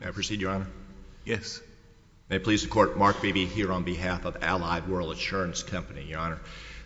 May I proceed, Your Honor? Yes. May it please the Court, Mark Beebe here on behalf of Allied World Insurance Company. Your Honor,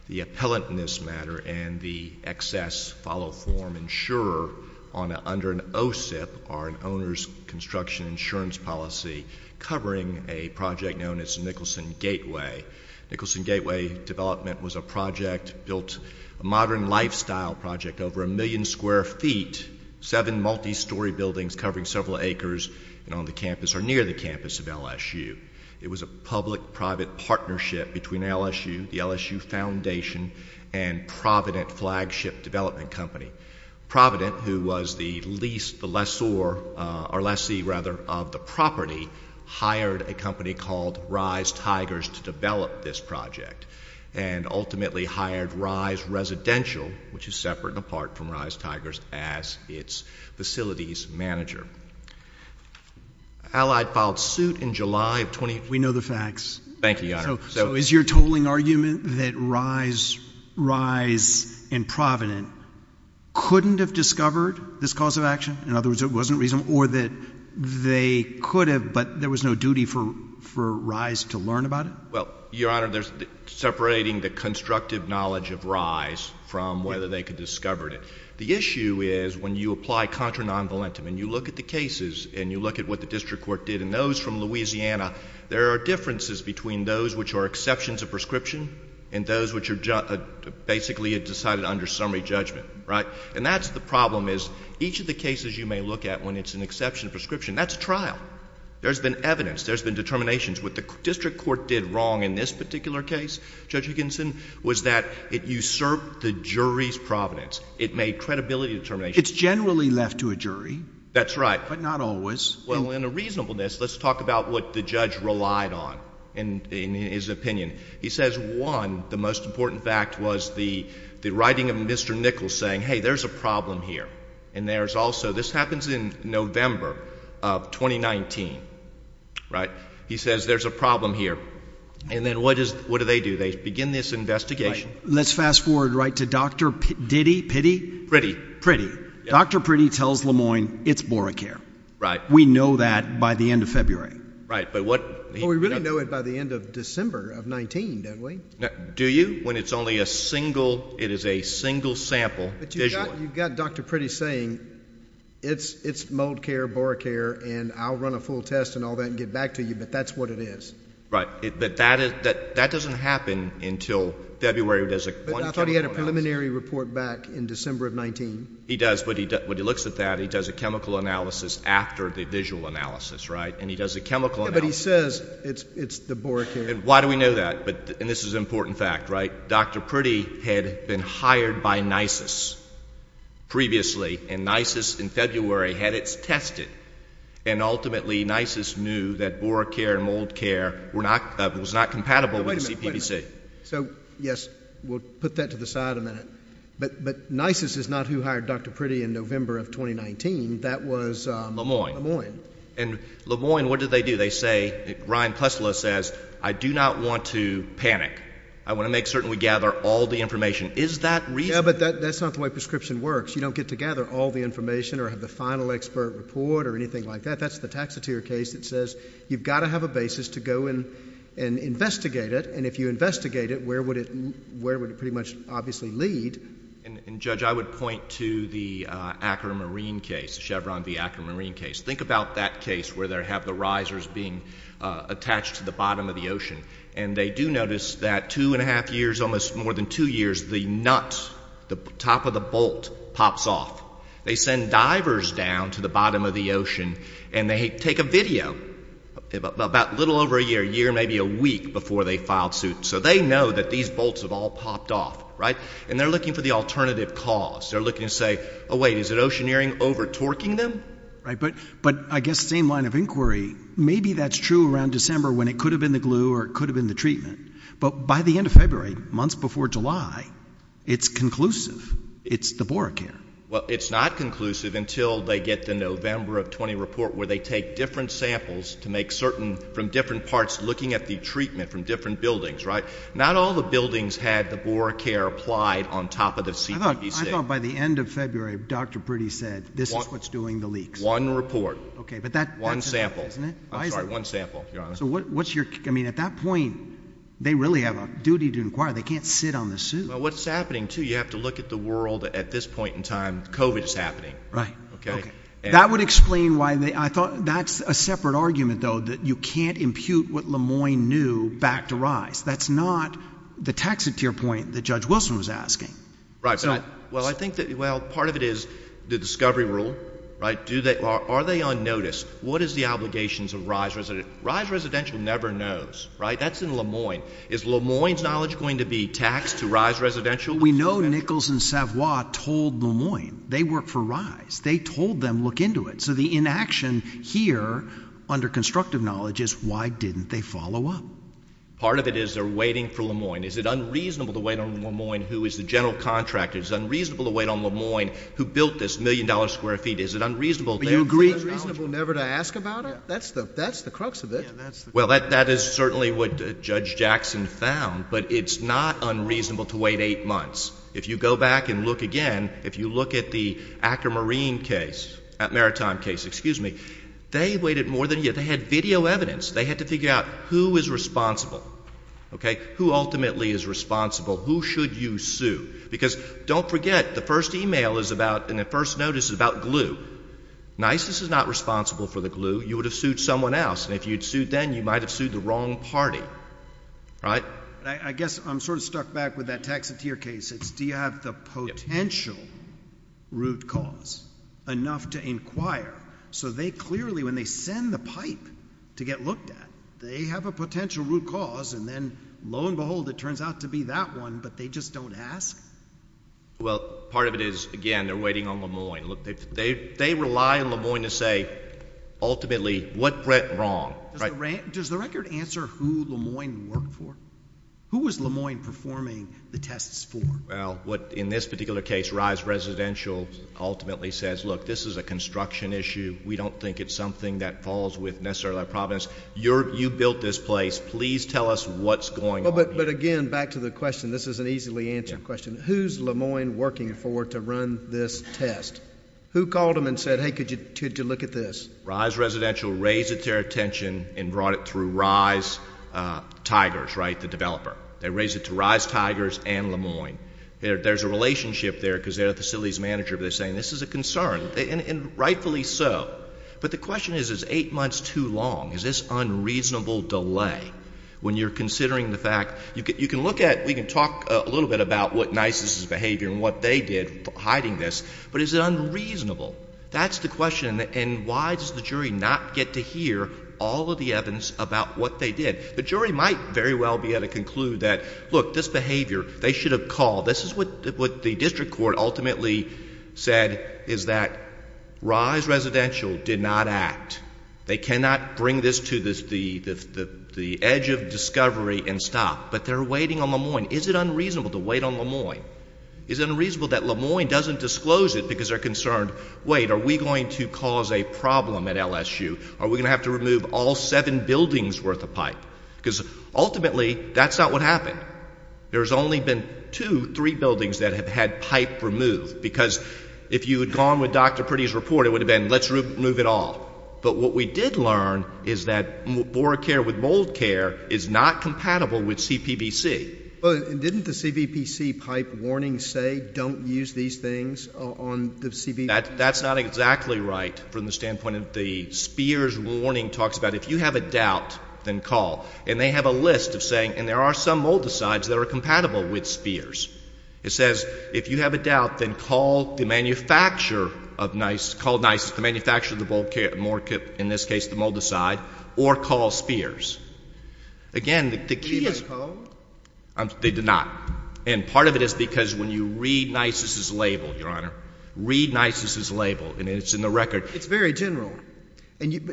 the appellant in this matter and the excess follow form insurer under an OSIP, or an owner's construction insurance policy, covering a project known as Nicholson Gateway. Nicholson Gateway development was a project built, a modern lifestyle project, over a million square feet, seven multi-story buildings covering several acres on the campus or near the campus of LSU. It was a public-private partnership between LSU, the LSU Foundation, and Provident Flagship Development Company. Provident, who was the lease, the lessor, or lessee, rather, of the property, hired a company called Rise Tigers to develop this project and ultimately hired Rise Residential, which is separate and apart from Rise Tigers, as its facilities manager. Allied filed suit in July of... We know the facts. Thank you, Your Honor. So is your totaling argument that Rise and Provident couldn't have discovered this cause of action? In other words, it wasn't reasonable? Or that they could have, but there was no duty for Rise to learn about it? Well, Your Honor, there's separating the constructive knowledge of Rise from whether they could have discovered it. The issue is when you apply contra non-valentam and you look at the cases and you look at what the district court did and those from Louisiana, there are differences between those which are exceptions of prescription and those which are basically decided under summary judgment, right? And that's the problem is each of the cases you may look at when it's an exception of prescription, that's a trial. There's been evidence. There's been determinations. What the district court did wrong in this particular case, Judge Higginson, was that it usurped the jury's providence. It made credibility determinations. It's generally left to a jury. That's right. But not always. Well, in a reasonableness, let's talk about what the judge relied on in his opinion. He says, one, the most important fact was the writing of Mr. Nichols saying, hey, there's a problem here and there's also... This happens in November of 2019, right? He says there's a problem here. And then what do they do? They begin this investigation. Let's fast forward right to Dr. Diddy, Piddy? Dr. Piddy tells Lemoyne it's boracare. Right. We know that by the end of February. Right. But what... Well, we really know it by the end of December of 19, don't we? Do you? When it's only a single, it is a single sample. But you've got Dr. Piddy saying it's mold care, boracare, and I'll run a full test and all that and get back to you, but that's what it is. Right. But that doesn't happen until February. I thought he had a preliminary report back in December of 19. He does. When he looks at that, he does a chemical analysis after the visual analysis, right? And he does a chemical analysis. But he says it's the boracare. Why do we know that? And this is an important fact, right? Dr. Piddy had been hired by NISIS previously, and NISIS in February had it tested. And ultimately, NISIS knew that boracare and mold care was not compatible with the CPVC. So, yes, we'll put that to the side a minute. But NISIS is not who hired Dr. Piddy in November of 2019. That was... Le Moyne. And Le Moyne, what did they do? They say, Ryan Plessla says, I do not want to panic. I want to make certain we gather all the information. Is that reasonable? No, but that's not the way prescription works. You don't get to gather all the information or have the final expert report or anything like that. That's the taxatier case that says you've got to have a basis to go and investigate it. And if you investigate it, where would it pretty much obviously lead? And, Judge, I would point to the Akron Marine case, the Chevron v. Akron Marine case. Think about that case where they have the risers being attached to the bottom of the ocean. And they do notice that two and a half years, almost more than two years, the nut, the top of the bolt, pops off. They send divers down to the bottom of the ocean, and they take a video about a little over a year, a year, maybe a week, before they file suit. So they know that these bolts have all popped off, right? And they're looking for the alternative cause. They're looking to say, oh, wait, is it oceaneering over-torquing them? Right. But I guess same line of inquiry. Maybe that's true around December when it could have been the glue or it could have been the treatment. But by the end of February, months before July, it's conclusive. It's the BoraCare. Well, it's not conclusive until they get the November of 20 report where they take different samples to make certain, from different parts, looking at the treatment from different buildings, right? Not all the buildings had the BoraCare applied on top of the CPVC. I thought by the end of February, Dr. Priddy said, this is what's doing the leaks. One report. Okay. One sample. I'm sorry, one sample, to be honest. So what's your – I mean, at that point, they really have a duty to inquire. They can't sit on the suit. Well, what's happening, too, you have to look at the world at this point in time. COVID is happening. Right. Okay. That would explain why they – I thought that's a separate argument, though, that you can't impute what Lemoyne knew back to Rice. That's not the taxiteer point that Judge Wilson was asking. Right. Well, I think that – well, part of it is the discovery rule, right? Are they on notice? What is the obligations of Rice Residential? Rice Residential never knows, right? That's in Lemoyne. Is Lemoyne's knowledge going to be taxed to Rice Residential? We know Nichols and Savoie told Lemoyne they work for Rice. They told them look into it. So the inaction here, under constructive knowledge, is why didn't they follow up? Part of it is they're waiting for Lemoyne. Is it unreasonable to wait on Lemoyne, who is the general contractor? Is it unreasonable to wait on Lemoyne, who built this million-dollar square feet? Is it unreasonable? But you agree it's unreasonable never to ask about it? Yeah. That's the crux of it. Yeah, that's the crux of it. Well, that is certainly what Judge Jackson found. But it's not unreasonable to wait eight months. If you go back and look again, if you look at the Akermarine case – Maritime case, excuse me. They waited more than a year. They had video evidence. They had to figure out who is responsible, okay, who ultimately is responsible, who should you sue. Because don't forget, the first email is about – and the first notice is about glue. NYSIS is not responsible for the glue. You would have sued someone else. And if you'd sued them, you might have sued the wrong party. Right? I guess I'm sort of stuck back with that taxatier case. It's do you have the potential root cause enough to inquire? So they clearly, when they send the pipe to get looked at, they have a potential root cause. And then, lo and behold, it turns out to be that one, but they just don't ask? Well, part of it is, again, they're waiting on Le Moyne. Look, they rely on Le Moyne to say ultimately what went wrong. Does the record answer who Le Moyne worked for? Who was Le Moyne performing the tests for? Well, what in this particular case, RISE Residential, ultimately says, look, this is a construction issue. We don't think it's something that falls with necessarily our province. You built this place. Please tell us what's going on here. But, again, back to the question. This is an easily answered question. Who's Le Moyne working for to run this test? Who called him and said, hey, could you look at this? RISE Residential raised it to their attention and brought it through RISE Tigers, right, the developer. They raised it to RISE Tigers and Le Moyne. There's a relationship there because they're a facilities manager, but they're saying this is a concern, and rightfully so. But the question is, is eight months too long? Is this unreasonable delay? When you're considering the fact you can look at, we can talk a little bit about what NYSSA's behavior and what they did hiding this, but is it unreasonable? That's the question, and why does the jury not get to hear all of the evidence about what they did? The jury might very well be able to conclude that, look, this behavior, they should have called. This is what the district court ultimately said, is that RISE Residential did not act. They cannot bring this to the edge of discovery and stop. But they're waiting on Le Moyne. Is it unreasonable to wait on Le Moyne? Is it unreasonable that Le Moyne doesn't disclose it because they're concerned, wait, are we going to cause a problem at LSU? Are we going to have to remove all seven buildings worth of pipe? Because ultimately that's not what happened. There's only been two, three buildings that have had pipe removed because if you had gone with Dr. Priddy's report, it would have been let's remove it all. But what we did learn is that BoraCare with mold care is not compatible with CPBC. Didn't the CPBC pipe warning say don't use these things on the CPBC? That's not exactly right from the standpoint of the Spears warning talks about if you have a doubt, then call. And they have a list of saying, and there are some moldicides that are compatible with Spears. It says if you have a doubt, then call the manufacturer of Nisus, call Nisus, the manufacturer of the mold, in this case the moldicide, or call Spears. Again, the key is— Did they call? They did not. And part of it is because when you read Nisus's label, Your Honor, read Nisus's label, and it's in the record. It's very general.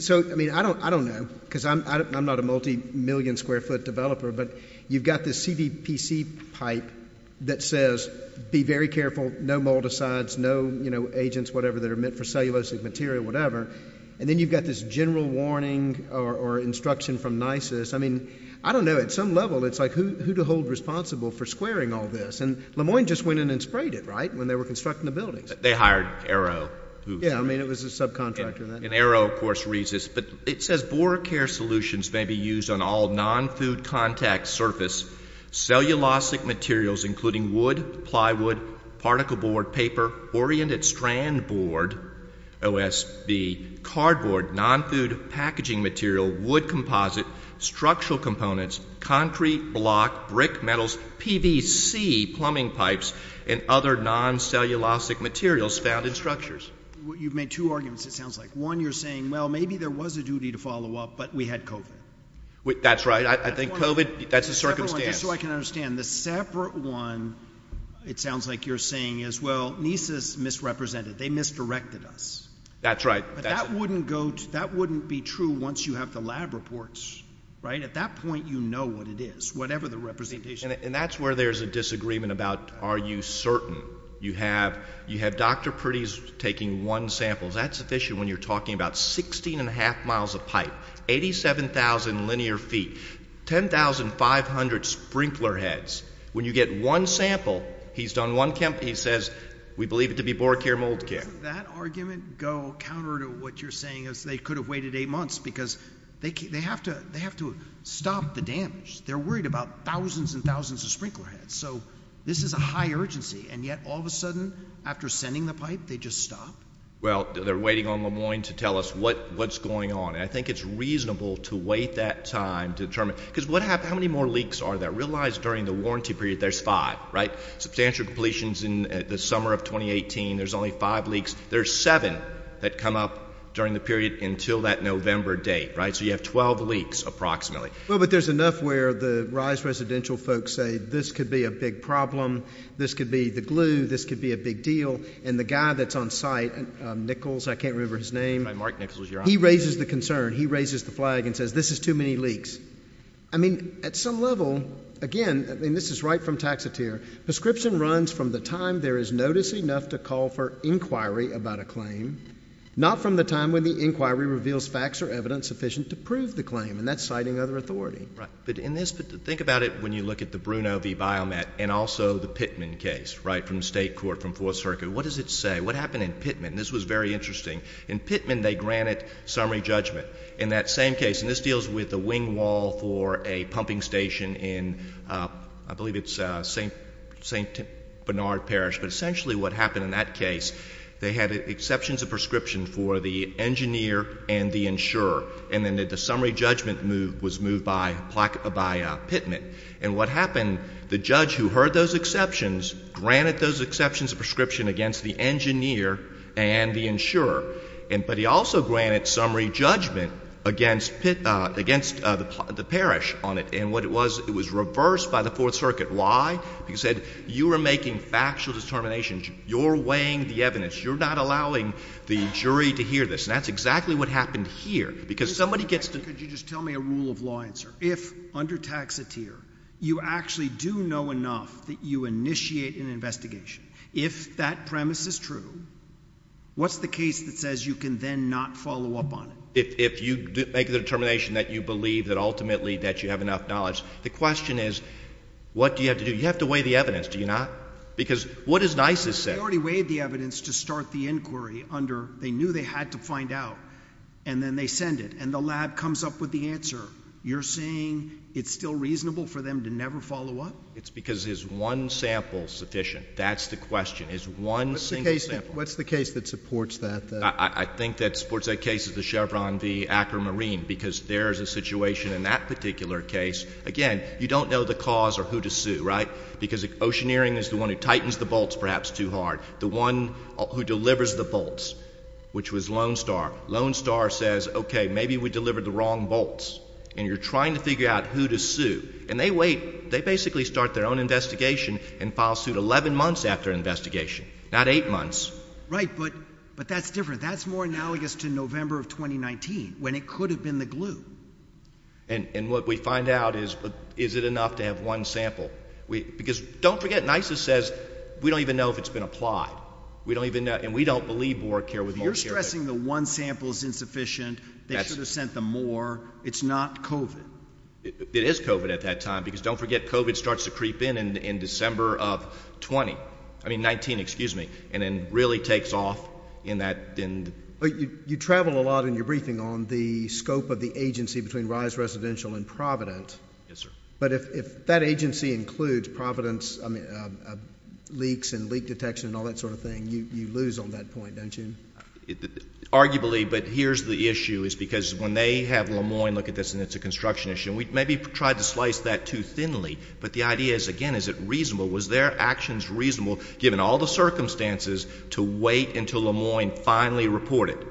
So, I mean, I don't know because I'm not a multimillion square foot developer, but you've got this CPBC pipe that says be very careful, no moldicides, no agents, whatever, that are meant for cellulosic material, whatever. And then you've got this general warning or instruction from Nisus. I mean, I don't know. At some level, it's like who to hold responsible for squaring all this. And Le Moyne just went in and sprayed it, right, when they were constructing the buildings. They hired Arrow. Yeah, I mean, it was a subcontractor. And Arrow, of course, reads this. But it says boric care solutions may be used on all non-food contact surface, cellulosic materials including wood, plywood, particle board, paper, oriented strand board, OSB, cardboard, non-food packaging material, wood composite, structural components, concrete block, brick metals, PVC plumbing pipes, and other non-cellulosic materials found in structures. You've made two arguments, it sounds like. One, you're saying, well, maybe there was a duty to follow up, but we had COVID. That's right. I think COVID, that's a circumstance. Just so I can understand, the separate one, it sounds like you're saying, is, well, Nisus misrepresented. They misdirected us. That's right. But that wouldn't be true once you have the lab reports, right? At that point, you know what it is, whatever the representation is. And that's where there's a disagreement about are you certain. You have Dr. Priddy taking one sample. Is that sufficient when you're talking about 16 1⁄2 miles of pipe, 87,000 linear feet, 10,500 sprinkler heads. When you get one sample, he says we believe it to be BoraCare mold care. That argument go counter to what you're saying is they could have waited eight months because they have to stop the damage. They're worried about thousands and thousands of sprinkler heads. So this is a high urgency, and yet all of a sudden after sending the pipe, they just stop? Well, they're waiting on LeMoyne to tell us what's going on. And I think it's reasonable to wait that time to determine because how many more leaks are there? Realize during the warranty period there's five, right? Substantial completions in the summer of 2018, there's only five leaks. There's seven that come up during the period until that November date, right? So you have 12 leaks approximately. Well, but there's enough where the RISE residential folks say this could be a big problem. This could be the glue. This could be a big deal. And the guy that's on site, Nichols, I can't remember his name. Mark Nichols, your honor. He raises the concern. He raises the flag and says this is too many leaks. I mean, at some level, again, and this is right from Taxotere, prescription runs from the time there is notice enough to call for inquiry about a claim, not from the time when the inquiry reveals facts or evidence sufficient to prove the claim. And that's citing other authority. Right. But think about it when you look at the Bruno v. Biomet and also the Pittman case, right, What does it say? What happened in Pittman? This was very interesting. In Pittman, they granted summary judgment. In that same case, and this deals with the wing wall for a pumping station in, I believe it's St. Bernard Parish. But essentially what happened in that case, they had exceptions of prescription for the engineer and the insurer. And then the summary judgment move was moved by Pittman. And what happened, the judge who heard those exceptions granted those exceptions of prescription against the engineer and the insurer. But he also granted summary judgment against the parish on it. And what it was, it was reversed by the Fourth Circuit. Why? He said you were making factual determinations. You're weighing the evidence. You're not allowing the jury to hear this. And that's exactly what happened here. Because somebody gets to Could you just tell me a rule of law answer? If, under Taxotere, you actually do know enough that you initiate an investigation, if that premise is true, what's the case that says you can then not follow up on it? If you make the determination that you believe that ultimately that you have enough knowledge, the question is what do you have to do? You have to weigh the evidence, do you not? Because what is NISIS saying? They already weighed the evidence to start the inquiry under they knew they had to find out. And then they send it. And the lab comes up with the answer. You're saying it's still reasonable for them to never follow up? It's because is one sample sufficient? That's the question. Is one single sample? What's the case that supports that? I think that supports that case of the Chevron v. Akramarine because there is a situation in that particular case. Again, you don't know the cause or who to sue, right? Because Oceaneering is the one who tightens the bolts perhaps too hard. The one who delivers the bolts, which was Lone Star. Lone Star says, okay, maybe we delivered the wrong bolts. And you're trying to figure out who to sue. And they wait. They basically start their own investigation and file suit 11 months after investigation, not eight months. Right. But that's different. That's more analogous to November of 2019 when it could have been the glue. And what we find out is, is it enough to have one sample? Because don't forget, NISIS says we don't even know if it's been applied. We don't even know. And we don't believe Boracare would work here. They're stressing the one sample is insufficient. They should have sent them more. It's not COVID. It is COVID at that time because don't forget, COVID starts to creep in in December of 20. I mean 19, excuse me. And then really takes off in that. You travel a lot in your briefing on the scope of the agency between Rise Residential and Provident. Yes, sir. But if that agency includes Providence leaks and leak detection and all that sort of thing, you lose on that point, don't you? Arguably. But here's the issue is because when they have Le Moyne look at this and it's a construction issue, and we maybe tried to slice that too thinly, but the idea is, again, is it reasonable? Was their actions reasonable given all the circumstances to wait until Le Moyne finally reported?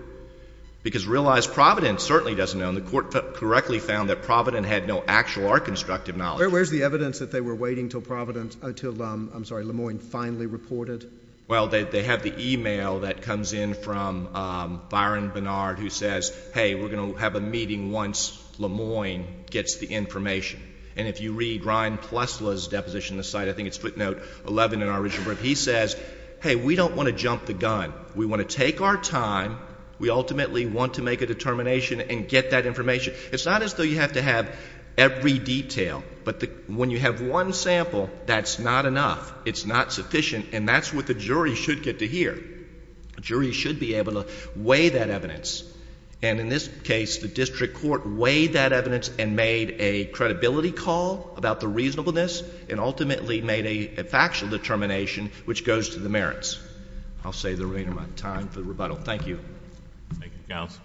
Because Realize Providence certainly doesn't know. And the court correctly found that Provident had no actual art constructive knowledge. Where's the evidence that they were waiting until Providence, I'm sorry, Le Moyne finally reported? Well, they have the e-mail that comes in from Byron Bernard who says, hey, we're going to have a meeting once Le Moyne gets the information. And if you read Ryan Plessla's deposition, the site, I think it's footnote 11 in our original brief, he says, hey, we don't want to jump the gun. We want to take our time. We ultimately want to make a determination and get that information. It's not as though you have to have every detail. But when you have one sample, that's not enough. It's not sufficient. And that's what the jury should get to hear. A jury should be able to weigh that evidence. And in this case, the district court weighed that evidence and made a credibility call about the reasonableness and ultimately made a factual determination which goes to the merits. I'll save the remainder of my time for the rebuttal. Thank you. Thank you, counsel.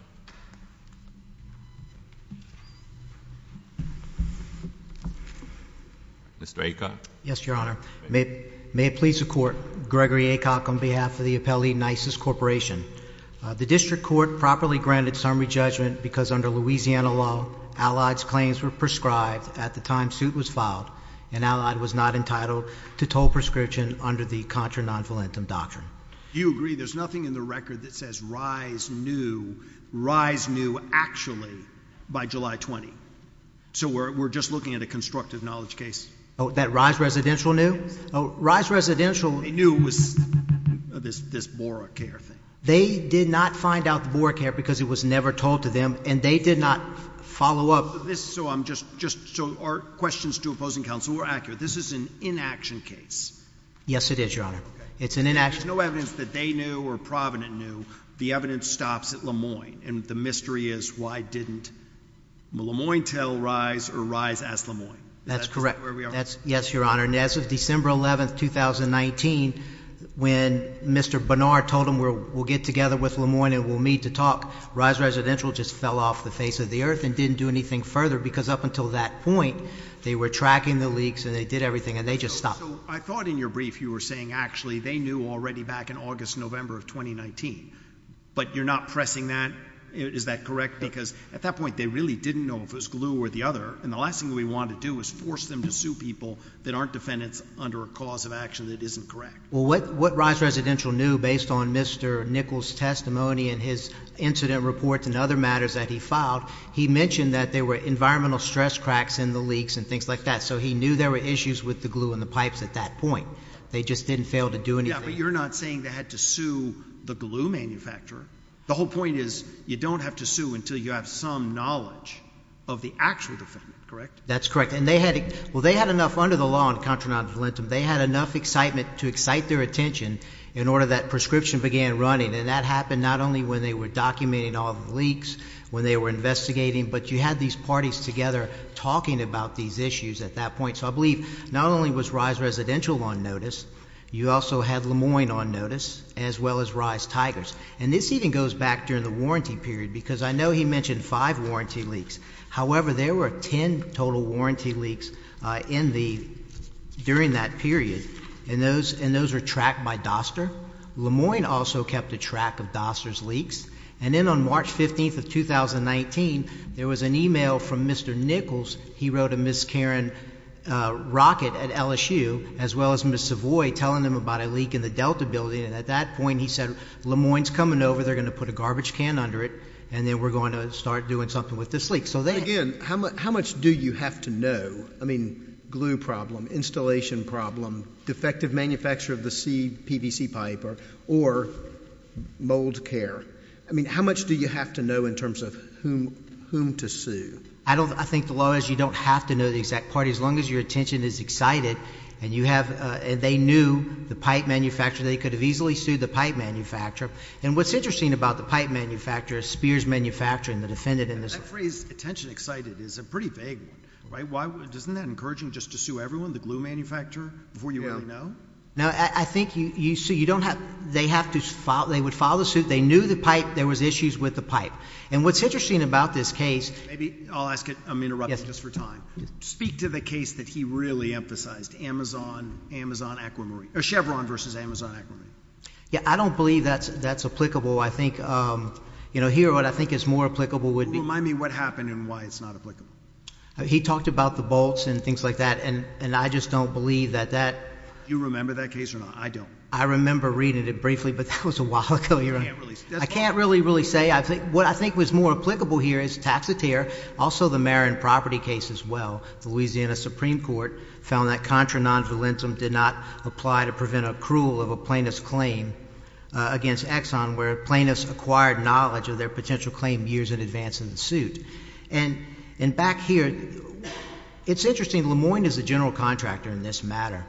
Mr. Aikin. Yes, Your Honor. May it please the Court. Gregory Aikok on behalf of the appellee NYSIS Corporation. The district court properly granted summary judgment because under Louisiana law, Allied's claims were prescribed at the time suit was filed and Allied was not entitled to toll prescription under the contra non-valentum doctrine. Do you agree there's nothing in the record that says rise new, rise new actually by July 20? So we're just looking at a constructive knowledge case? Oh, that rise residential new? Oh, rise residential. They knew it was this Bora care thing. They did not find out the Bora care because it was never told to them and they did not follow up. So our questions to opposing counsel were accurate. This is an inaction case. Yes, it is, Your Honor. Okay. It's an inaction case. There's no evidence that they knew or Provident knew. The evidence stops at Lemoyne. And the mystery is why didn't Lemoyne tell rise or rise ask Lemoyne? That's correct. Yes, Your Honor. And as of December 11, 2019, when Mr. Bernard told him we'll get together with Lemoyne and we'll meet to talk. Rise residential just fell off the face of the earth and didn't do anything further because up until that point, they were tracking the leaks and they did everything and they just stopped. I thought in your brief you were saying actually they knew already back in August, November of 2019. But you're not pressing that. Is that correct? Because at that point, they really didn't know if it was glue or the other. And the last thing we want to do is force them to sue people that aren't defendants under a cause of action that isn't correct. Well, what rise residential knew based on Mr. Nichols' testimony and his incident reports and other matters that he filed, he mentioned that there were environmental stress cracks in the leaks and things like that. So he knew there were issues with the glue and the pipes at that point. They just didn't fail to do anything. Yeah, but you're not saying they had to sue the glue manufacturer. The whole point is you don't have to sue until you have some knowledge of the actual defendant. That's correct. And they had, well, they had enough under the law on contra non-valentum. They had enough excitement to excite their attention in order that prescription began running. And that happened not only when they were documenting all the leaks, when they were investigating, but you had these parties together talking about these issues at that point. So I believe not only was rise residential on notice, you also had Lemoyne on notice as well as rise tigers. And this even goes back during the warranty period because I know he mentioned five warranty leaks. However, there were ten total warranty leaks in the, during that period. And those, and those were tracked by Doster. Lemoyne also kept a track of Doster's leaks. And then on March 15th of 2019, there was an email from Mr. Nichols. He wrote a Ms. Karen Rocket at LSU as well as Ms. Savoy telling him about a leak in the Delta building. And at that point he said, Lemoyne's coming over. They're going to put a garbage can under it. And then we're going to start doing something with this leak. So then. Again, how much do you have to know? I mean, glue problem, installation problem, defective manufacture of the PVC pipe or mold care. I mean, how much do you have to know in terms of whom to sue? I don't, I think the law is you don't have to know the exact party as long as your attention is excited. And you have, and they knew the pipe manufacturer. They could have easily sued the pipe manufacturer. And what's interesting about the pipe manufacturer is Spears Manufacturing, the defendant in this case. That phrase, attention excited, is a pretty vague one. Right? Why, isn't that encouraging just to sue everyone, the glue manufacturer, before you really know? Yeah. No, I think you, so you don't have, they have to file, they would file the suit. They knew the pipe. There was issues with the pipe. And what's interesting about this case. Maybe, I'll ask it. I'm interrupting just for time. Yes. Can you speak to the case that he really emphasized, Amazon, Amazon Aquamarine, or Chevron versus Amazon Aquamarine? Yeah, I don't believe that's applicable. I think, you know, here what I think is more applicable would be. Remind me what happened and why it's not applicable. He talked about the bolts and things like that. And I just don't believe that that. Do you remember that case or not? I don't. I remember reading it briefly, but that was a while ago. You can't really. I can't really, really say. What I think was more applicable here is Taxotere, also the Marin property case as well. The Louisiana Supreme Court found that contra non-valentum did not apply to prevent accrual of a plaintiff's claim against Exxon, where a plaintiff's acquired knowledge of their potential claim years in advance in the suit. And back here, it's interesting. Le Moyne is the general contractor in this matter.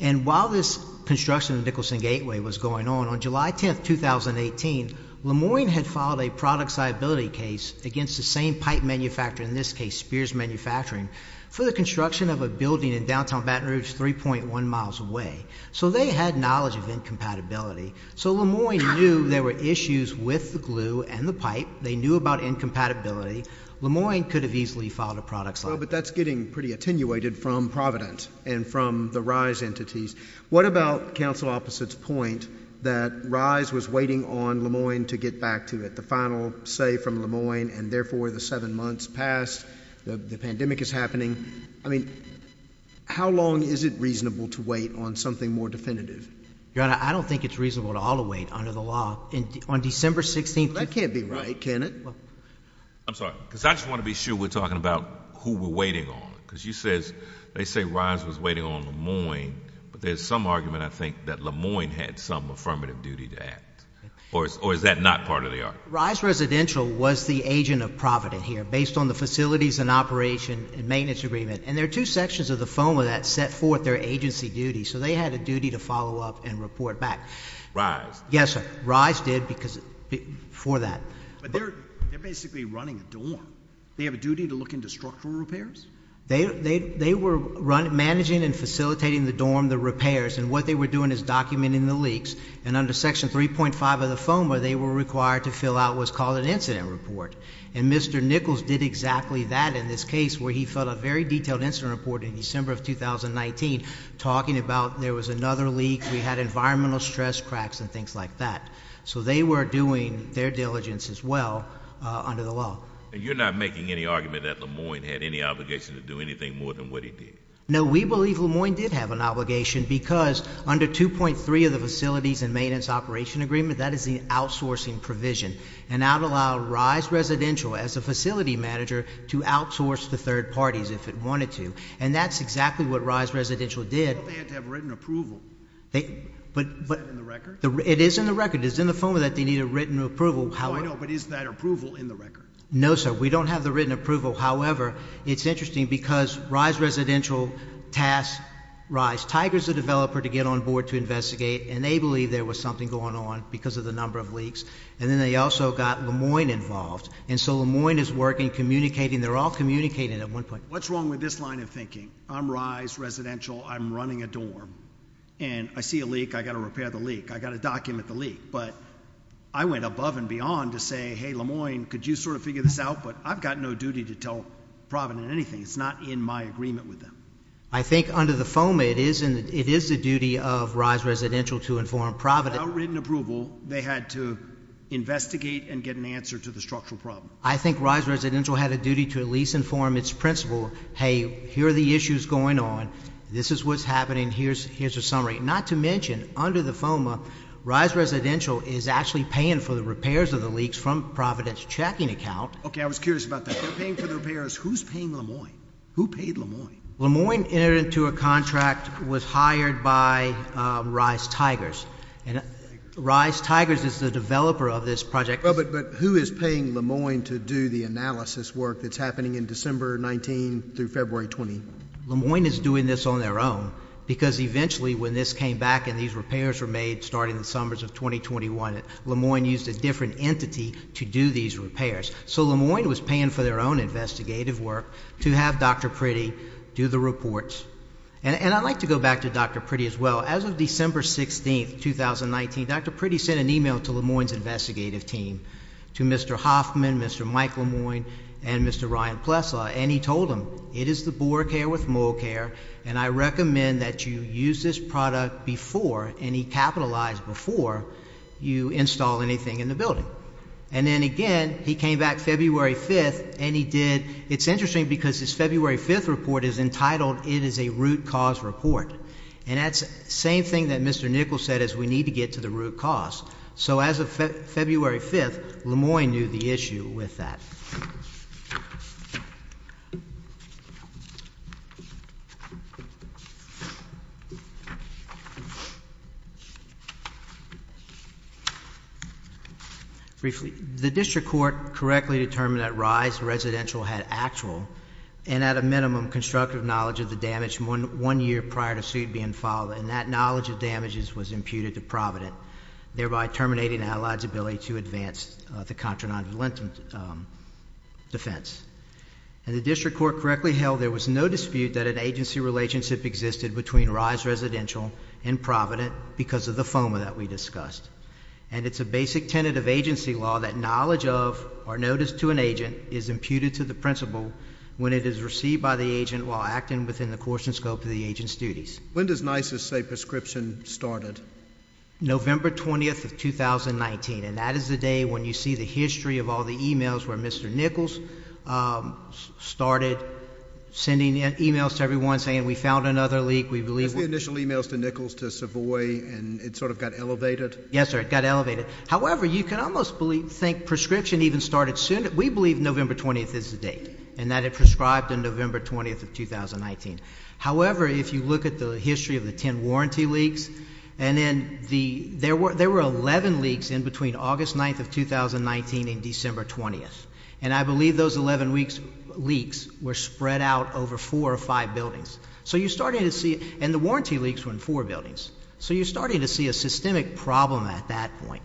And while this construction of the Nicholson Gateway was going on, on July 10th, 2018, Le Moyne had filed a product liability case against the same pipe manufacturer, in this case Spears Manufacturing, for the construction of a building in downtown Baton Rouge 3.1 miles away. So they had knowledge of incompatibility. So Le Moyne knew there were issues with the glue and the pipe. They knew about incompatibility. Le Moyne could have easily filed a product liability case. But that's getting pretty attenuated from Providence and from the RISE entities. What about counsel opposite's point that RISE was waiting on Le Moyne to get back to it? The final say from Le Moyne, and therefore the seven months passed. The pandemic is happening. I mean, how long is it reasonable to wait on something more definitive? Your Honor, I don't think it's reasonable at all to wait under the law. On December 16th. That can't be right, can it? I'm sorry. Because I just want to be sure we're talking about who we're waiting on. Because you say RISE was waiting on Le Moyne. But there's some argument, I think, that Le Moyne had some affirmative duty to act. Or is that not part of the argument? RISE Residential was the agent of Providence here, based on the facilities and operation and maintenance agreement. And there are two sections of the FOA that set forth their agency duties. So they had a duty to follow up and report back. Yes, sir. But they're basically running a dorm. They have a duty to look into structural repairs? They were managing and facilitating the dorm, the repairs. And what they were doing is documenting the leaks. And under Section 3.5 of the FOA, they were required to fill out what's called an incident report. And Mr. Nichols did exactly that in this case. Where he filled out a very detailed incident report in December of 2019. Talking about there was another leak. We had environmental stress cracks and things like that. So they were doing their diligence as well under the law. And you're not making any argument that Le Moyne had any obligation to do anything more than what he did? No, we believe Le Moyne did have an obligation. Because under 2.3 of the facilities and maintenance operation agreement, that is the outsourcing provision. And that allowed RISE Residential, as a facility manager, to outsource to third parties if it wanted to. And that's exactly what RISE Residential did. But they had to have written approval. Is that in the record? It is in the record. It's in the FOA that they need a written approval. Oh, I know. But is that approval in the record? No, sir. We don't have the written approval. However, it's interesting because RISE Residential tasked RISE. Tiger is the developer to get on board to investigate. And they believe there was something going on because of the number of leaks. And then they also got Le Moyne involved. And so Le Moyne is working, communicating. They're all communicating at one point. What's wrong with this line of thinking? I'm RISE Residential. I'm running a dorm. And I see a leak. I've got to repair the leak. I've got to document the leak. But I went above and beyond to say, hey, Le Moyne, could you sort of figure this out? But I've got no duty to tell Provident anything. It's not in my agreement with them. I think under the FOA, it is the duty of RISE Residential to inform Provident. Without written approval, they had to investigate and get an answer to the structural problem. I think RISE Residential had a duty to at least inform its principal, hey, here are the issues going on. This is what's happening. Here's a summary. Not to mention, under the FOA, RISE Residential is actually paying for the repairs of the leaks from Provident's checking account. Okay, I was curious about that. They're paying for the repairs. Who's paying Le Moyne? Who paid Le Moyne? Le Moyne entered into a contract, was hired by RISE Tigers. And RISE Tigers is the developer of this project. But who is paying Le Moyne to do the analysis work that's happening in December 19 through February 20? Le Moyne is doing this on their own. Because eventually, when this came back and these repairs were made starting in the summers of 2021, Le Moyne used a different entity to do these repairs. So Le Moyne was paying for their own investigative work to have Dr. Priddy do the reports. And I'd like to go back to Dr. Priddy as well. As of December 16, 2019, Dr. Priddy sent an email to Le Moyne's investigative team. To Mr. Hoffman, Mr. Mike Le Moyne, and Mr. Ryan Plessla. And he told them, it is the Boar Care with Mole Care, and I recommend that you use this product before, and he capitalized before, you install anything in the building. And then again, he came back February 5th, and he did. It's interesting because his February 5th report is entitled, It is a Root Cause Report. And that's the same thing that Mr. Nichols said, is we need to get to the root cause. So as of February 5th, Le Moyne knew the issue with that. Briefly. The district court correctly determined that Rye's residential had actual, and at a minimum, constructive knowledge of the damage one year prior to suit being filed. And that knowledge of damages was imputed to Provident, thereby terminating Allied's ability to advance the contra-non-valent defense. And the district court correctly held there was no dispute that an agency relationship existed between Rye's residential and Provident because of the FOMA that we discussed. And it's a basic tentative agency law that knowledge of, or notice to an agent, is imputed to the principal when it is received by the agent while acting within the course and scope of the agent's duties. When does NISA say prescription started? November 20th of 2019, and that is the day when you see the history of all the emails where Mr. Nichols started sending emails to everyone saying we found another leak. That's the initial emails to Nichols, to Savoy, and it sort of got elevated? Yes, sir, it got elevated. However, you can almost believe, think prescription even started soon. We believe November 20th is the date, and that it prescribed on November 20th of 2019. However, if you look at the history of the 10 warranty leaks, there were 11 leaks in between August 9th of 2019 and December 20th. And I believe those 11 leaks were spread out over four or five buildings. So you're starting to see, and the warranty leaks were in four buildings. So you're starting to see a systemic problem at that point.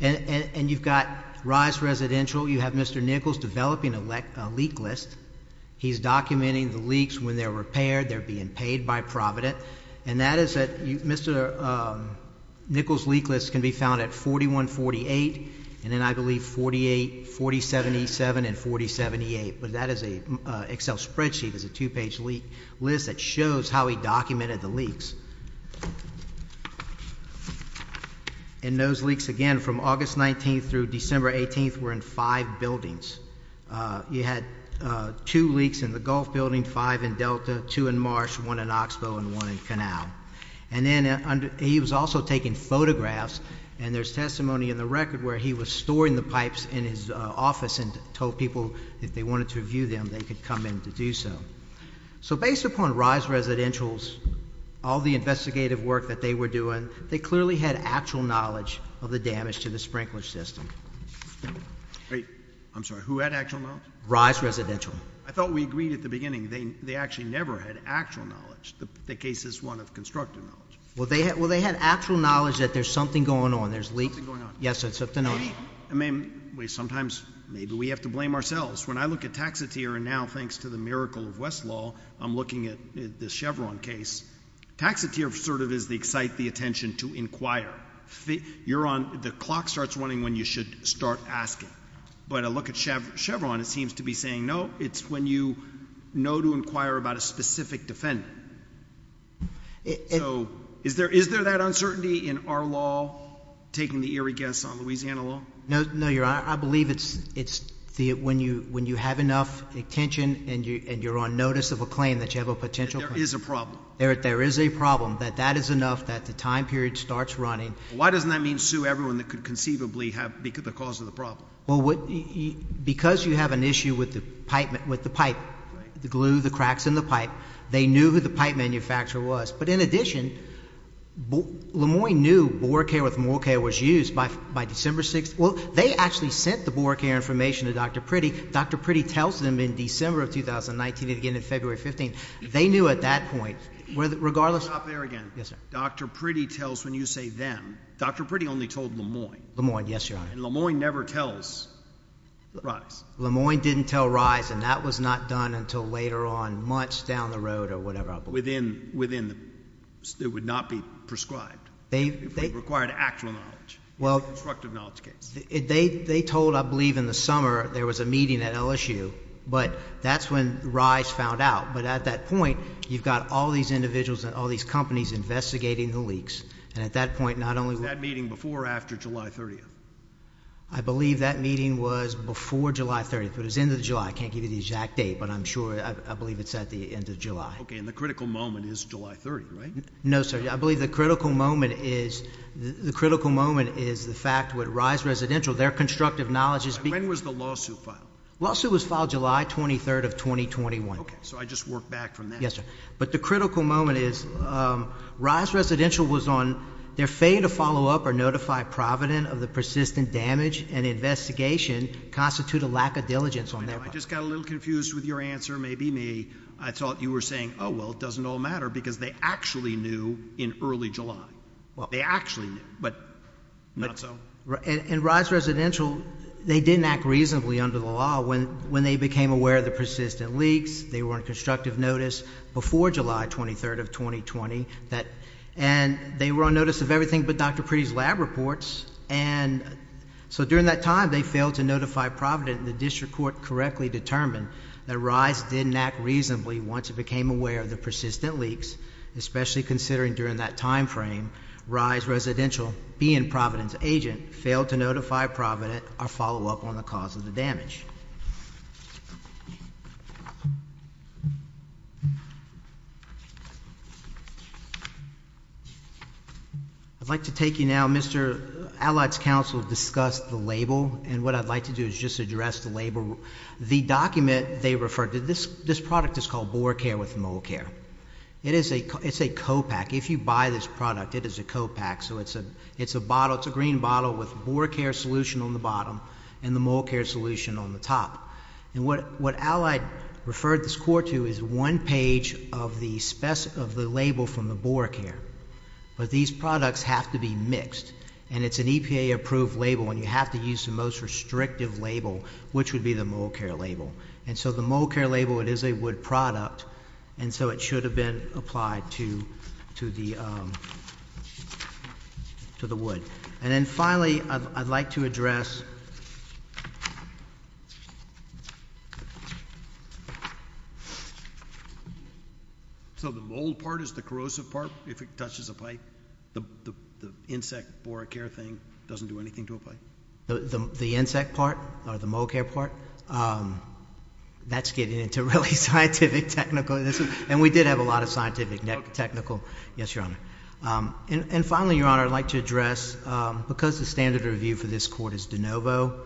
And you've got Rye's residential, you have Mr. Nichols developing a leak list. He's documenting the leaks when they're repaired, they're being paid by Provident. And that is that Mr. Nichols' leak list can be found at 41, 48, and then I believe 48, 40, 77, and 40, 78. But that is an Excel spreadsheet, it's a two-page leak list that shows how he documented the leaks. And those leaks, again, from August 19th through December 18th were in five buildings. You had two leaks in the Gulf building, five in Delta, two in Marsh, one in Oxbow, and one in Canal. And then he was also taking photographs. And there's testimony in the record where he was storing the pipes in his office and told people if they wanted to review them, they could come in to do so. So based upon Rye's residentials, all the investigative work that they were doing, they clearly had actual knowledge of the damage to the sprinkler system. Wait, I'm sorry. Who had actual knowledge? Rye's residential. I thought we agreed at the beginning they actually never had actual knowledge. The case is one of constructive knowledge. Well, they had actual knowledge that there's something going on. There's leaks. There's something going on. Yes, there's something going on. I mean, sometimes maybe we have to blame ourselves. When I look at Taxotere and now, thanks to the miracle of Westlaw, I'm looking at the Chevron case, Taxotere sort of is the excite the attention to inquire. The clock starts running when you should start asking. But I look at Chevron, it seems to be saying, no, it's when you know to inquire about a specific defendant. Is there that uncertainty in our law taking the eerie guess on Louisiana law? No, Your Honor. I believe it's when you have enough attention and you're on notice of a claim that you have a potential claim. There is a problem. There is a problem that that is enough that the time period starts running. Why doesn't that mean sue everyone that could conceivably have the cause of the problem? Well, because you have an issue with the pipe, the glue, the cracks in the pipe. They knew who the pipe manufacturer was. But in addition, LeMoyne knew Boracay with Morcay was used by December 6th. Well, they actually sent the Boracay information to Dr. Priddy. Dr. Priddy tells them in December of 2019 and again in February 15th. They knew at that point, regardless. Let me stop there again. Yes, sir. Dr. Priddy tells when you say them. Dr. Priddy only told LeMoyne. LeMoyne, yes, Your Honor. And LeMoyne never tells Rice. LeMoyne didn't tell Rice and that was not done until later on, months down the road or whatever I believe. Within the, it would not be prescribed. They. It required actual knowledge. Well. In the constructive knowledge case. They told, I believe in the summer, there was a meeting at LSU. But that's when Rice found out. But at that point, you've got all these individuals and all these companies investigating the leaks. And at that point, not only. Was that meeting before or after July 30th? I believe that meeting was before July 30th. But it was the end of July. I can't give you the exact date. But I'm sure, I believe it's at the end of July. Okay. And the critical moment is July 30th, right? No, sir. I believe the critical moment is, the critical moment is the fact that Rice Residential, their constructive knowledge is. When was the lawsuit filed? The lawsuit was filed July 23rd of 2021. So, I just work back from that. Yes, sir. But the critical moment is, Rice Residential was on. Their failure to follow up or notify Provident of the persistent damage and investigation constitute a lack of diligence on their part. I know. I just got a little confused with your answer. Maybe me. I thought you were saying, oh, well, it doesn't all matter. Because they actually knew in early July. Well. They actually knew. But. Not so. In Rice Residential, they didn't act reasonably under the law when they became aware of the persistent leaks. They were on constructive notice before July 23rd of 2020. And they were on notice of everything but Dr. Priddy's lab reports. And so, during that time, they failed to notify Provident. The district court correctly determined that Rice didn't act reasonably once it became aware of the persistent leaks. Especially considering during that time frame, Rice Residential, being Provident's agent, failed to notify Provident or follow up on the cause of the damage. I'd like to take you now. Mr. Allied's counsel discussed the label. And what I'd like to do is just address the label. The document they referred to. This product is called Boar Care with Mole Care. It is a co-pack. If you buy this product, it is a co-pack. So, it's a bottle. It's a green bottle with Boar Care solution on the bottom and the Mole Care solution on the top. And what Allied referred this court to is one page of the label from the Boar Care. But these products have to be mixed. And it's an EPA approved label. And you have to use the most restrictive label, which would be the Mole Care label. And so, the Mole Care label, it is a wood product. And so, it should have been applied to the wood. And then finally, I'd like to address. So, the mole part is the corrosive part if it touches a pipe? The insect Boar Care thing doesn't do anything to a pipe? The insect part or the Mole Care part? That's getting into really scientific technical. And we did have a lot of scientific technical. Yes, Your Honor. And finally, Your Honor, I'd like to address. Because the standard of review for this court is de novo,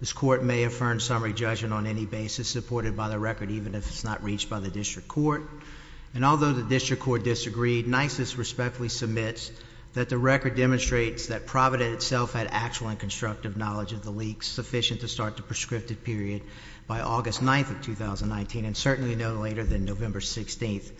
this court may affirm summary judgment on any basis supported by the record, even if it's not reached by the district court. And although the district court disagreed, NISIS respectfully submits that the record demonstrates that Provident itself had actual and constructive knowledge of the leaks, sufficient to start the prescriptive period by August 9th of 2019, and certainly no later than November 16th,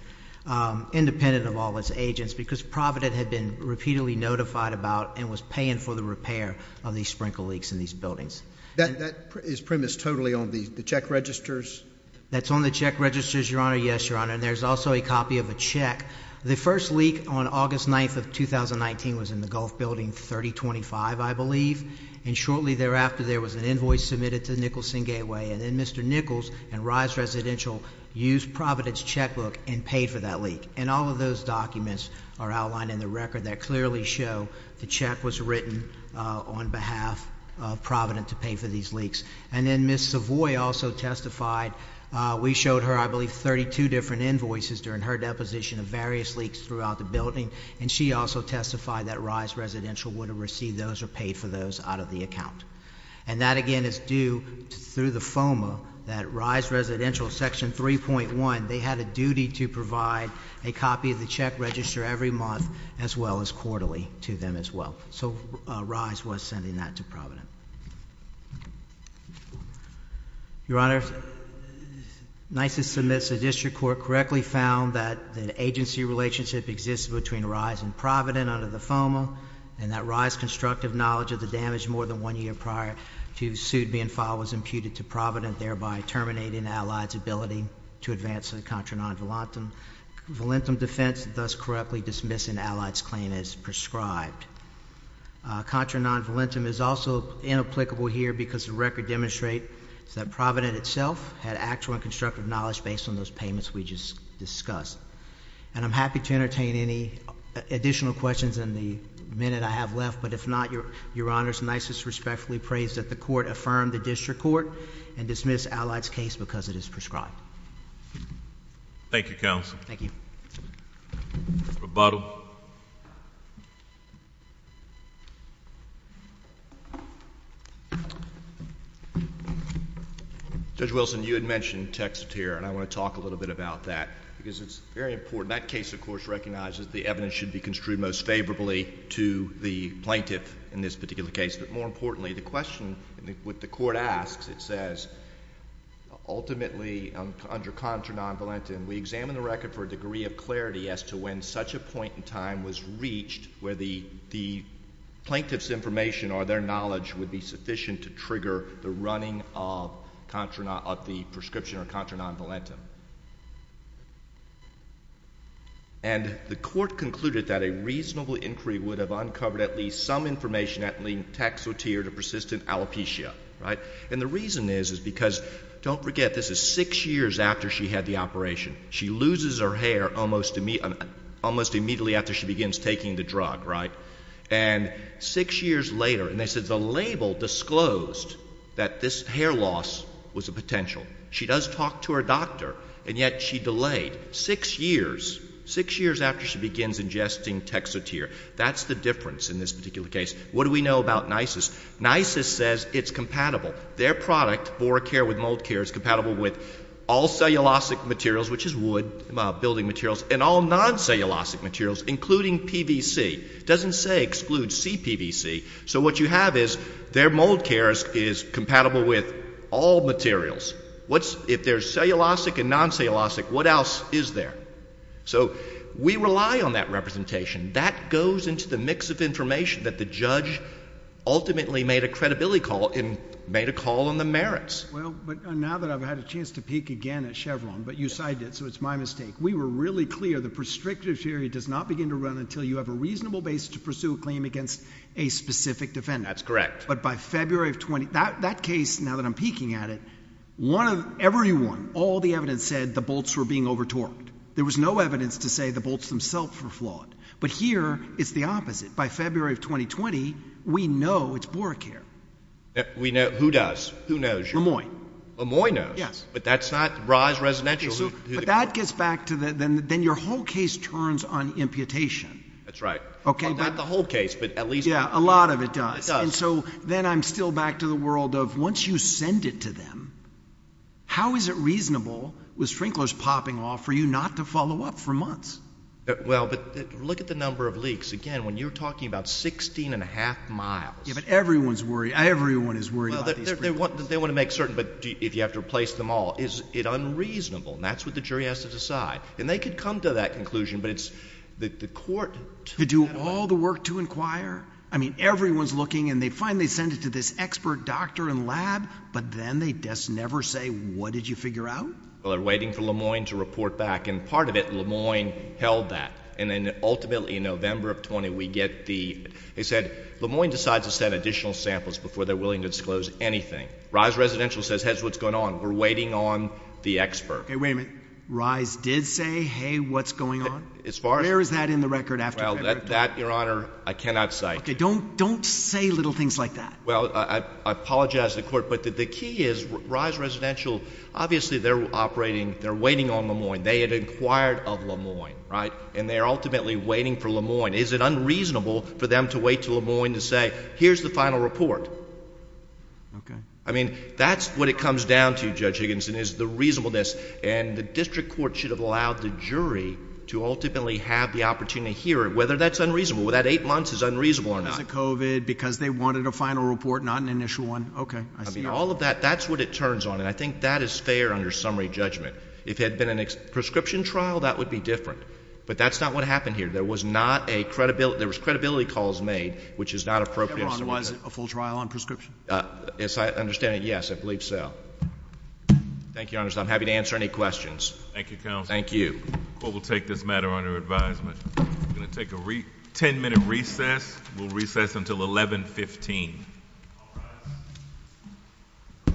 independent of all its agents, because Provident had been repeatedly notified about and was paying for the repair of these sprinkle leaks in these buildings. That is premised totally on the check registers? That's on the check registers, Your Honor. Yes, Your Honor. And there's also a copy of a check. The first leak on August 9th of 2019 was in the Gulf Building 3025. I believe. And shortly thereafter, there was an invoice submitted to Nicholson Gateway. And then Mr. Nichols and Rise Residential used Provident's checkbook and paid for that leak. And all of those documents are outlined in the record that clearly show the check was written on behalf of Provident to pay for these leaks. And then Ms. Savoy also testified. We showed her, I believe, 32 different invoices during her deposition of various leaks throughout the building. And she also testified that Rise Residential would have received those or paid for those out of the account. And that, again, is due through the FOMA that Rise Residential, Section 3.1, they had a duty to provide a copy of the check register every month as well as quarterly to them as well. So Rise was sending that to Provident. Your Honor, NYSA submits a district court correctly found that the agency relationship exists between Rise and Provident under the FOMA and that Rise's constructive knowledge of the damage more than one year prior to suit being filed was imputed to Provident, thereby terminating Allied's ability to advance a contra non-valentum defense, thus correctly dismissing Allied's claim as prescribed. Contra non-valentum is also inapplicable here because the record demonstrates that Provident itself had actual and constructive knowledge based on those payments we just discussed. And I'm happy to entertain any additional questions in the minute I have left, but if not, Your Honor, NYSA respectfully prays that the court affirm the district court and dismiss Allied's case because it is prescribed. Thank you, Counsel. Thank you. Rebuttal. Vote. Judge Wilson, you had mentioned text here and I want to talk a little bit about that because it's very important. That case, of course, recognizes the evidence should be construed most favorably to the plaintiff in this particular case, but more importantly, the question with the court asks, it says, ultimately under contra non-valentum, we examine the record for a degree of clarity as to when such a point in time was reached where the plaintiff's information or their knowledge would be sufficient to trigger the running of the prescription or contra non-valentum. And the court concluded that a reasonable inquiry would have uncovered at least some information that linked taxotere to persistent alopecia. And the reason is because, don't forget, this is six years after she had the operation. She loses her hair almost immediately after she begins taking the drug, right? And six years later, and they said the label disclosed that this hair loss was a potential. She does talk to her doctor, and yet she delayed six years, six years after she begins ingesting taxotere. That's the difference in this particular case. What do we know about NYSIS? NYSIS says it's compatible. Their product, BoraCare with MoldCare, is compatible with all cellulosic materials, which is wood, building materials, and all non-cellulosic materials, including PVC. It doesn't say exclude CPVC. So what you have is their MoldCare is compatible with all materials. If they're cellulosic and non-cellulosic, what else is there? So we rely on that representation. That goes into the mix of information that the judge ultimately made a credibility call and made a call on the merits. Well, but now that I've had a chance to peek again at Chevron, but you cited it, so it's my mistake. We were really clear the prestrictive theory does not begin to run until you have a reasonable basis to pursue a claim against a specific defendant. That's correct. But by February of 20—that case, now that I'm peeking at it, one of—everyone, all the evidence said the bolts were being over-torqued. There was no evidence to say the bolts themselves were flawed. But here, it's the opposite. By February of 2020, we know it's BoraCare. We know—who does? Who knows? Lemoyne. Lemoyne knows. Yes. But that's not—Rye's Residential. But that gets back to the—then your whole case turns on imputation. That's right. Well, not the whole case, but at least— Yeah, a lot of it does. It does. And so then I'm still back to the world of once you send it to them, how is it reasonable with sprinklers popping off for you not to follow up for months? Well, but look at the number of leaks. Again, when you're talking about 16 1⁄2 miles— Yeah, but everyone's worried. Everyone is worried about these sprinklers. Well, they want to make certain, but if you have to replace them all. Is it unreasonable? And that's what the jury has to decide. And they could come to that conclusion, but it's—the court— They do all the work to inquire? I mean, everyone's looking, and they finally send it to this expert doctor and lab, but then they just never say, what did you figure out? Well, they're waiting for Lemoyne to report back, and part of it Lemoyne held that. And then ultimately in November of 20, we get the—they said, Lemoyne decides to send additional samples before they're willing to disclose anything. RISE Residential says, here's what's going on. We're waiting on the expert. Okay, wait a minute. RISE did say, hey, what's going on? As far as— Where is that in the record after February? Well, that, Your Honor, I cannot cite. Okay, don't say little things like that. Well, I apologize to the court, but the key is RISE Residential, obviously they're operating—they're waiting on Lemoyne. They had inquired of Lemoyne, right? And they're ultimately waiting for Lemoyne. Is it unreasonable for them to wait till Lemoyne to say, here's the final report? Okay. I mean, that's what it comes down to, Judge Higginson, is the reasonableness. And the district court should have allowed the jury to ultimately have the opportunity to hear it, whether that's unreasonable. Whether that eight months is unreasonable or not. Because of COVID, because they wanted a final report, not an initial one. Okay, I see. I mean, all of that, that's what it turns on. And I think that is fair under summary judgment. If it had been a prescription trial, that would be different. But that's not what happened here. There was not a credibility—there was credibility calls made, which is not appropriate. Your Honor, was it a full trial on prescription? As I understand it, yes, I believe so. Thank you, Your Honor. I'm happy to answer any questions. Thank you, counsel. Thank you. The court will take this matter under advisement. We're going to take a 10-minute recess. We'll recess until 1115. All rise. Thank you.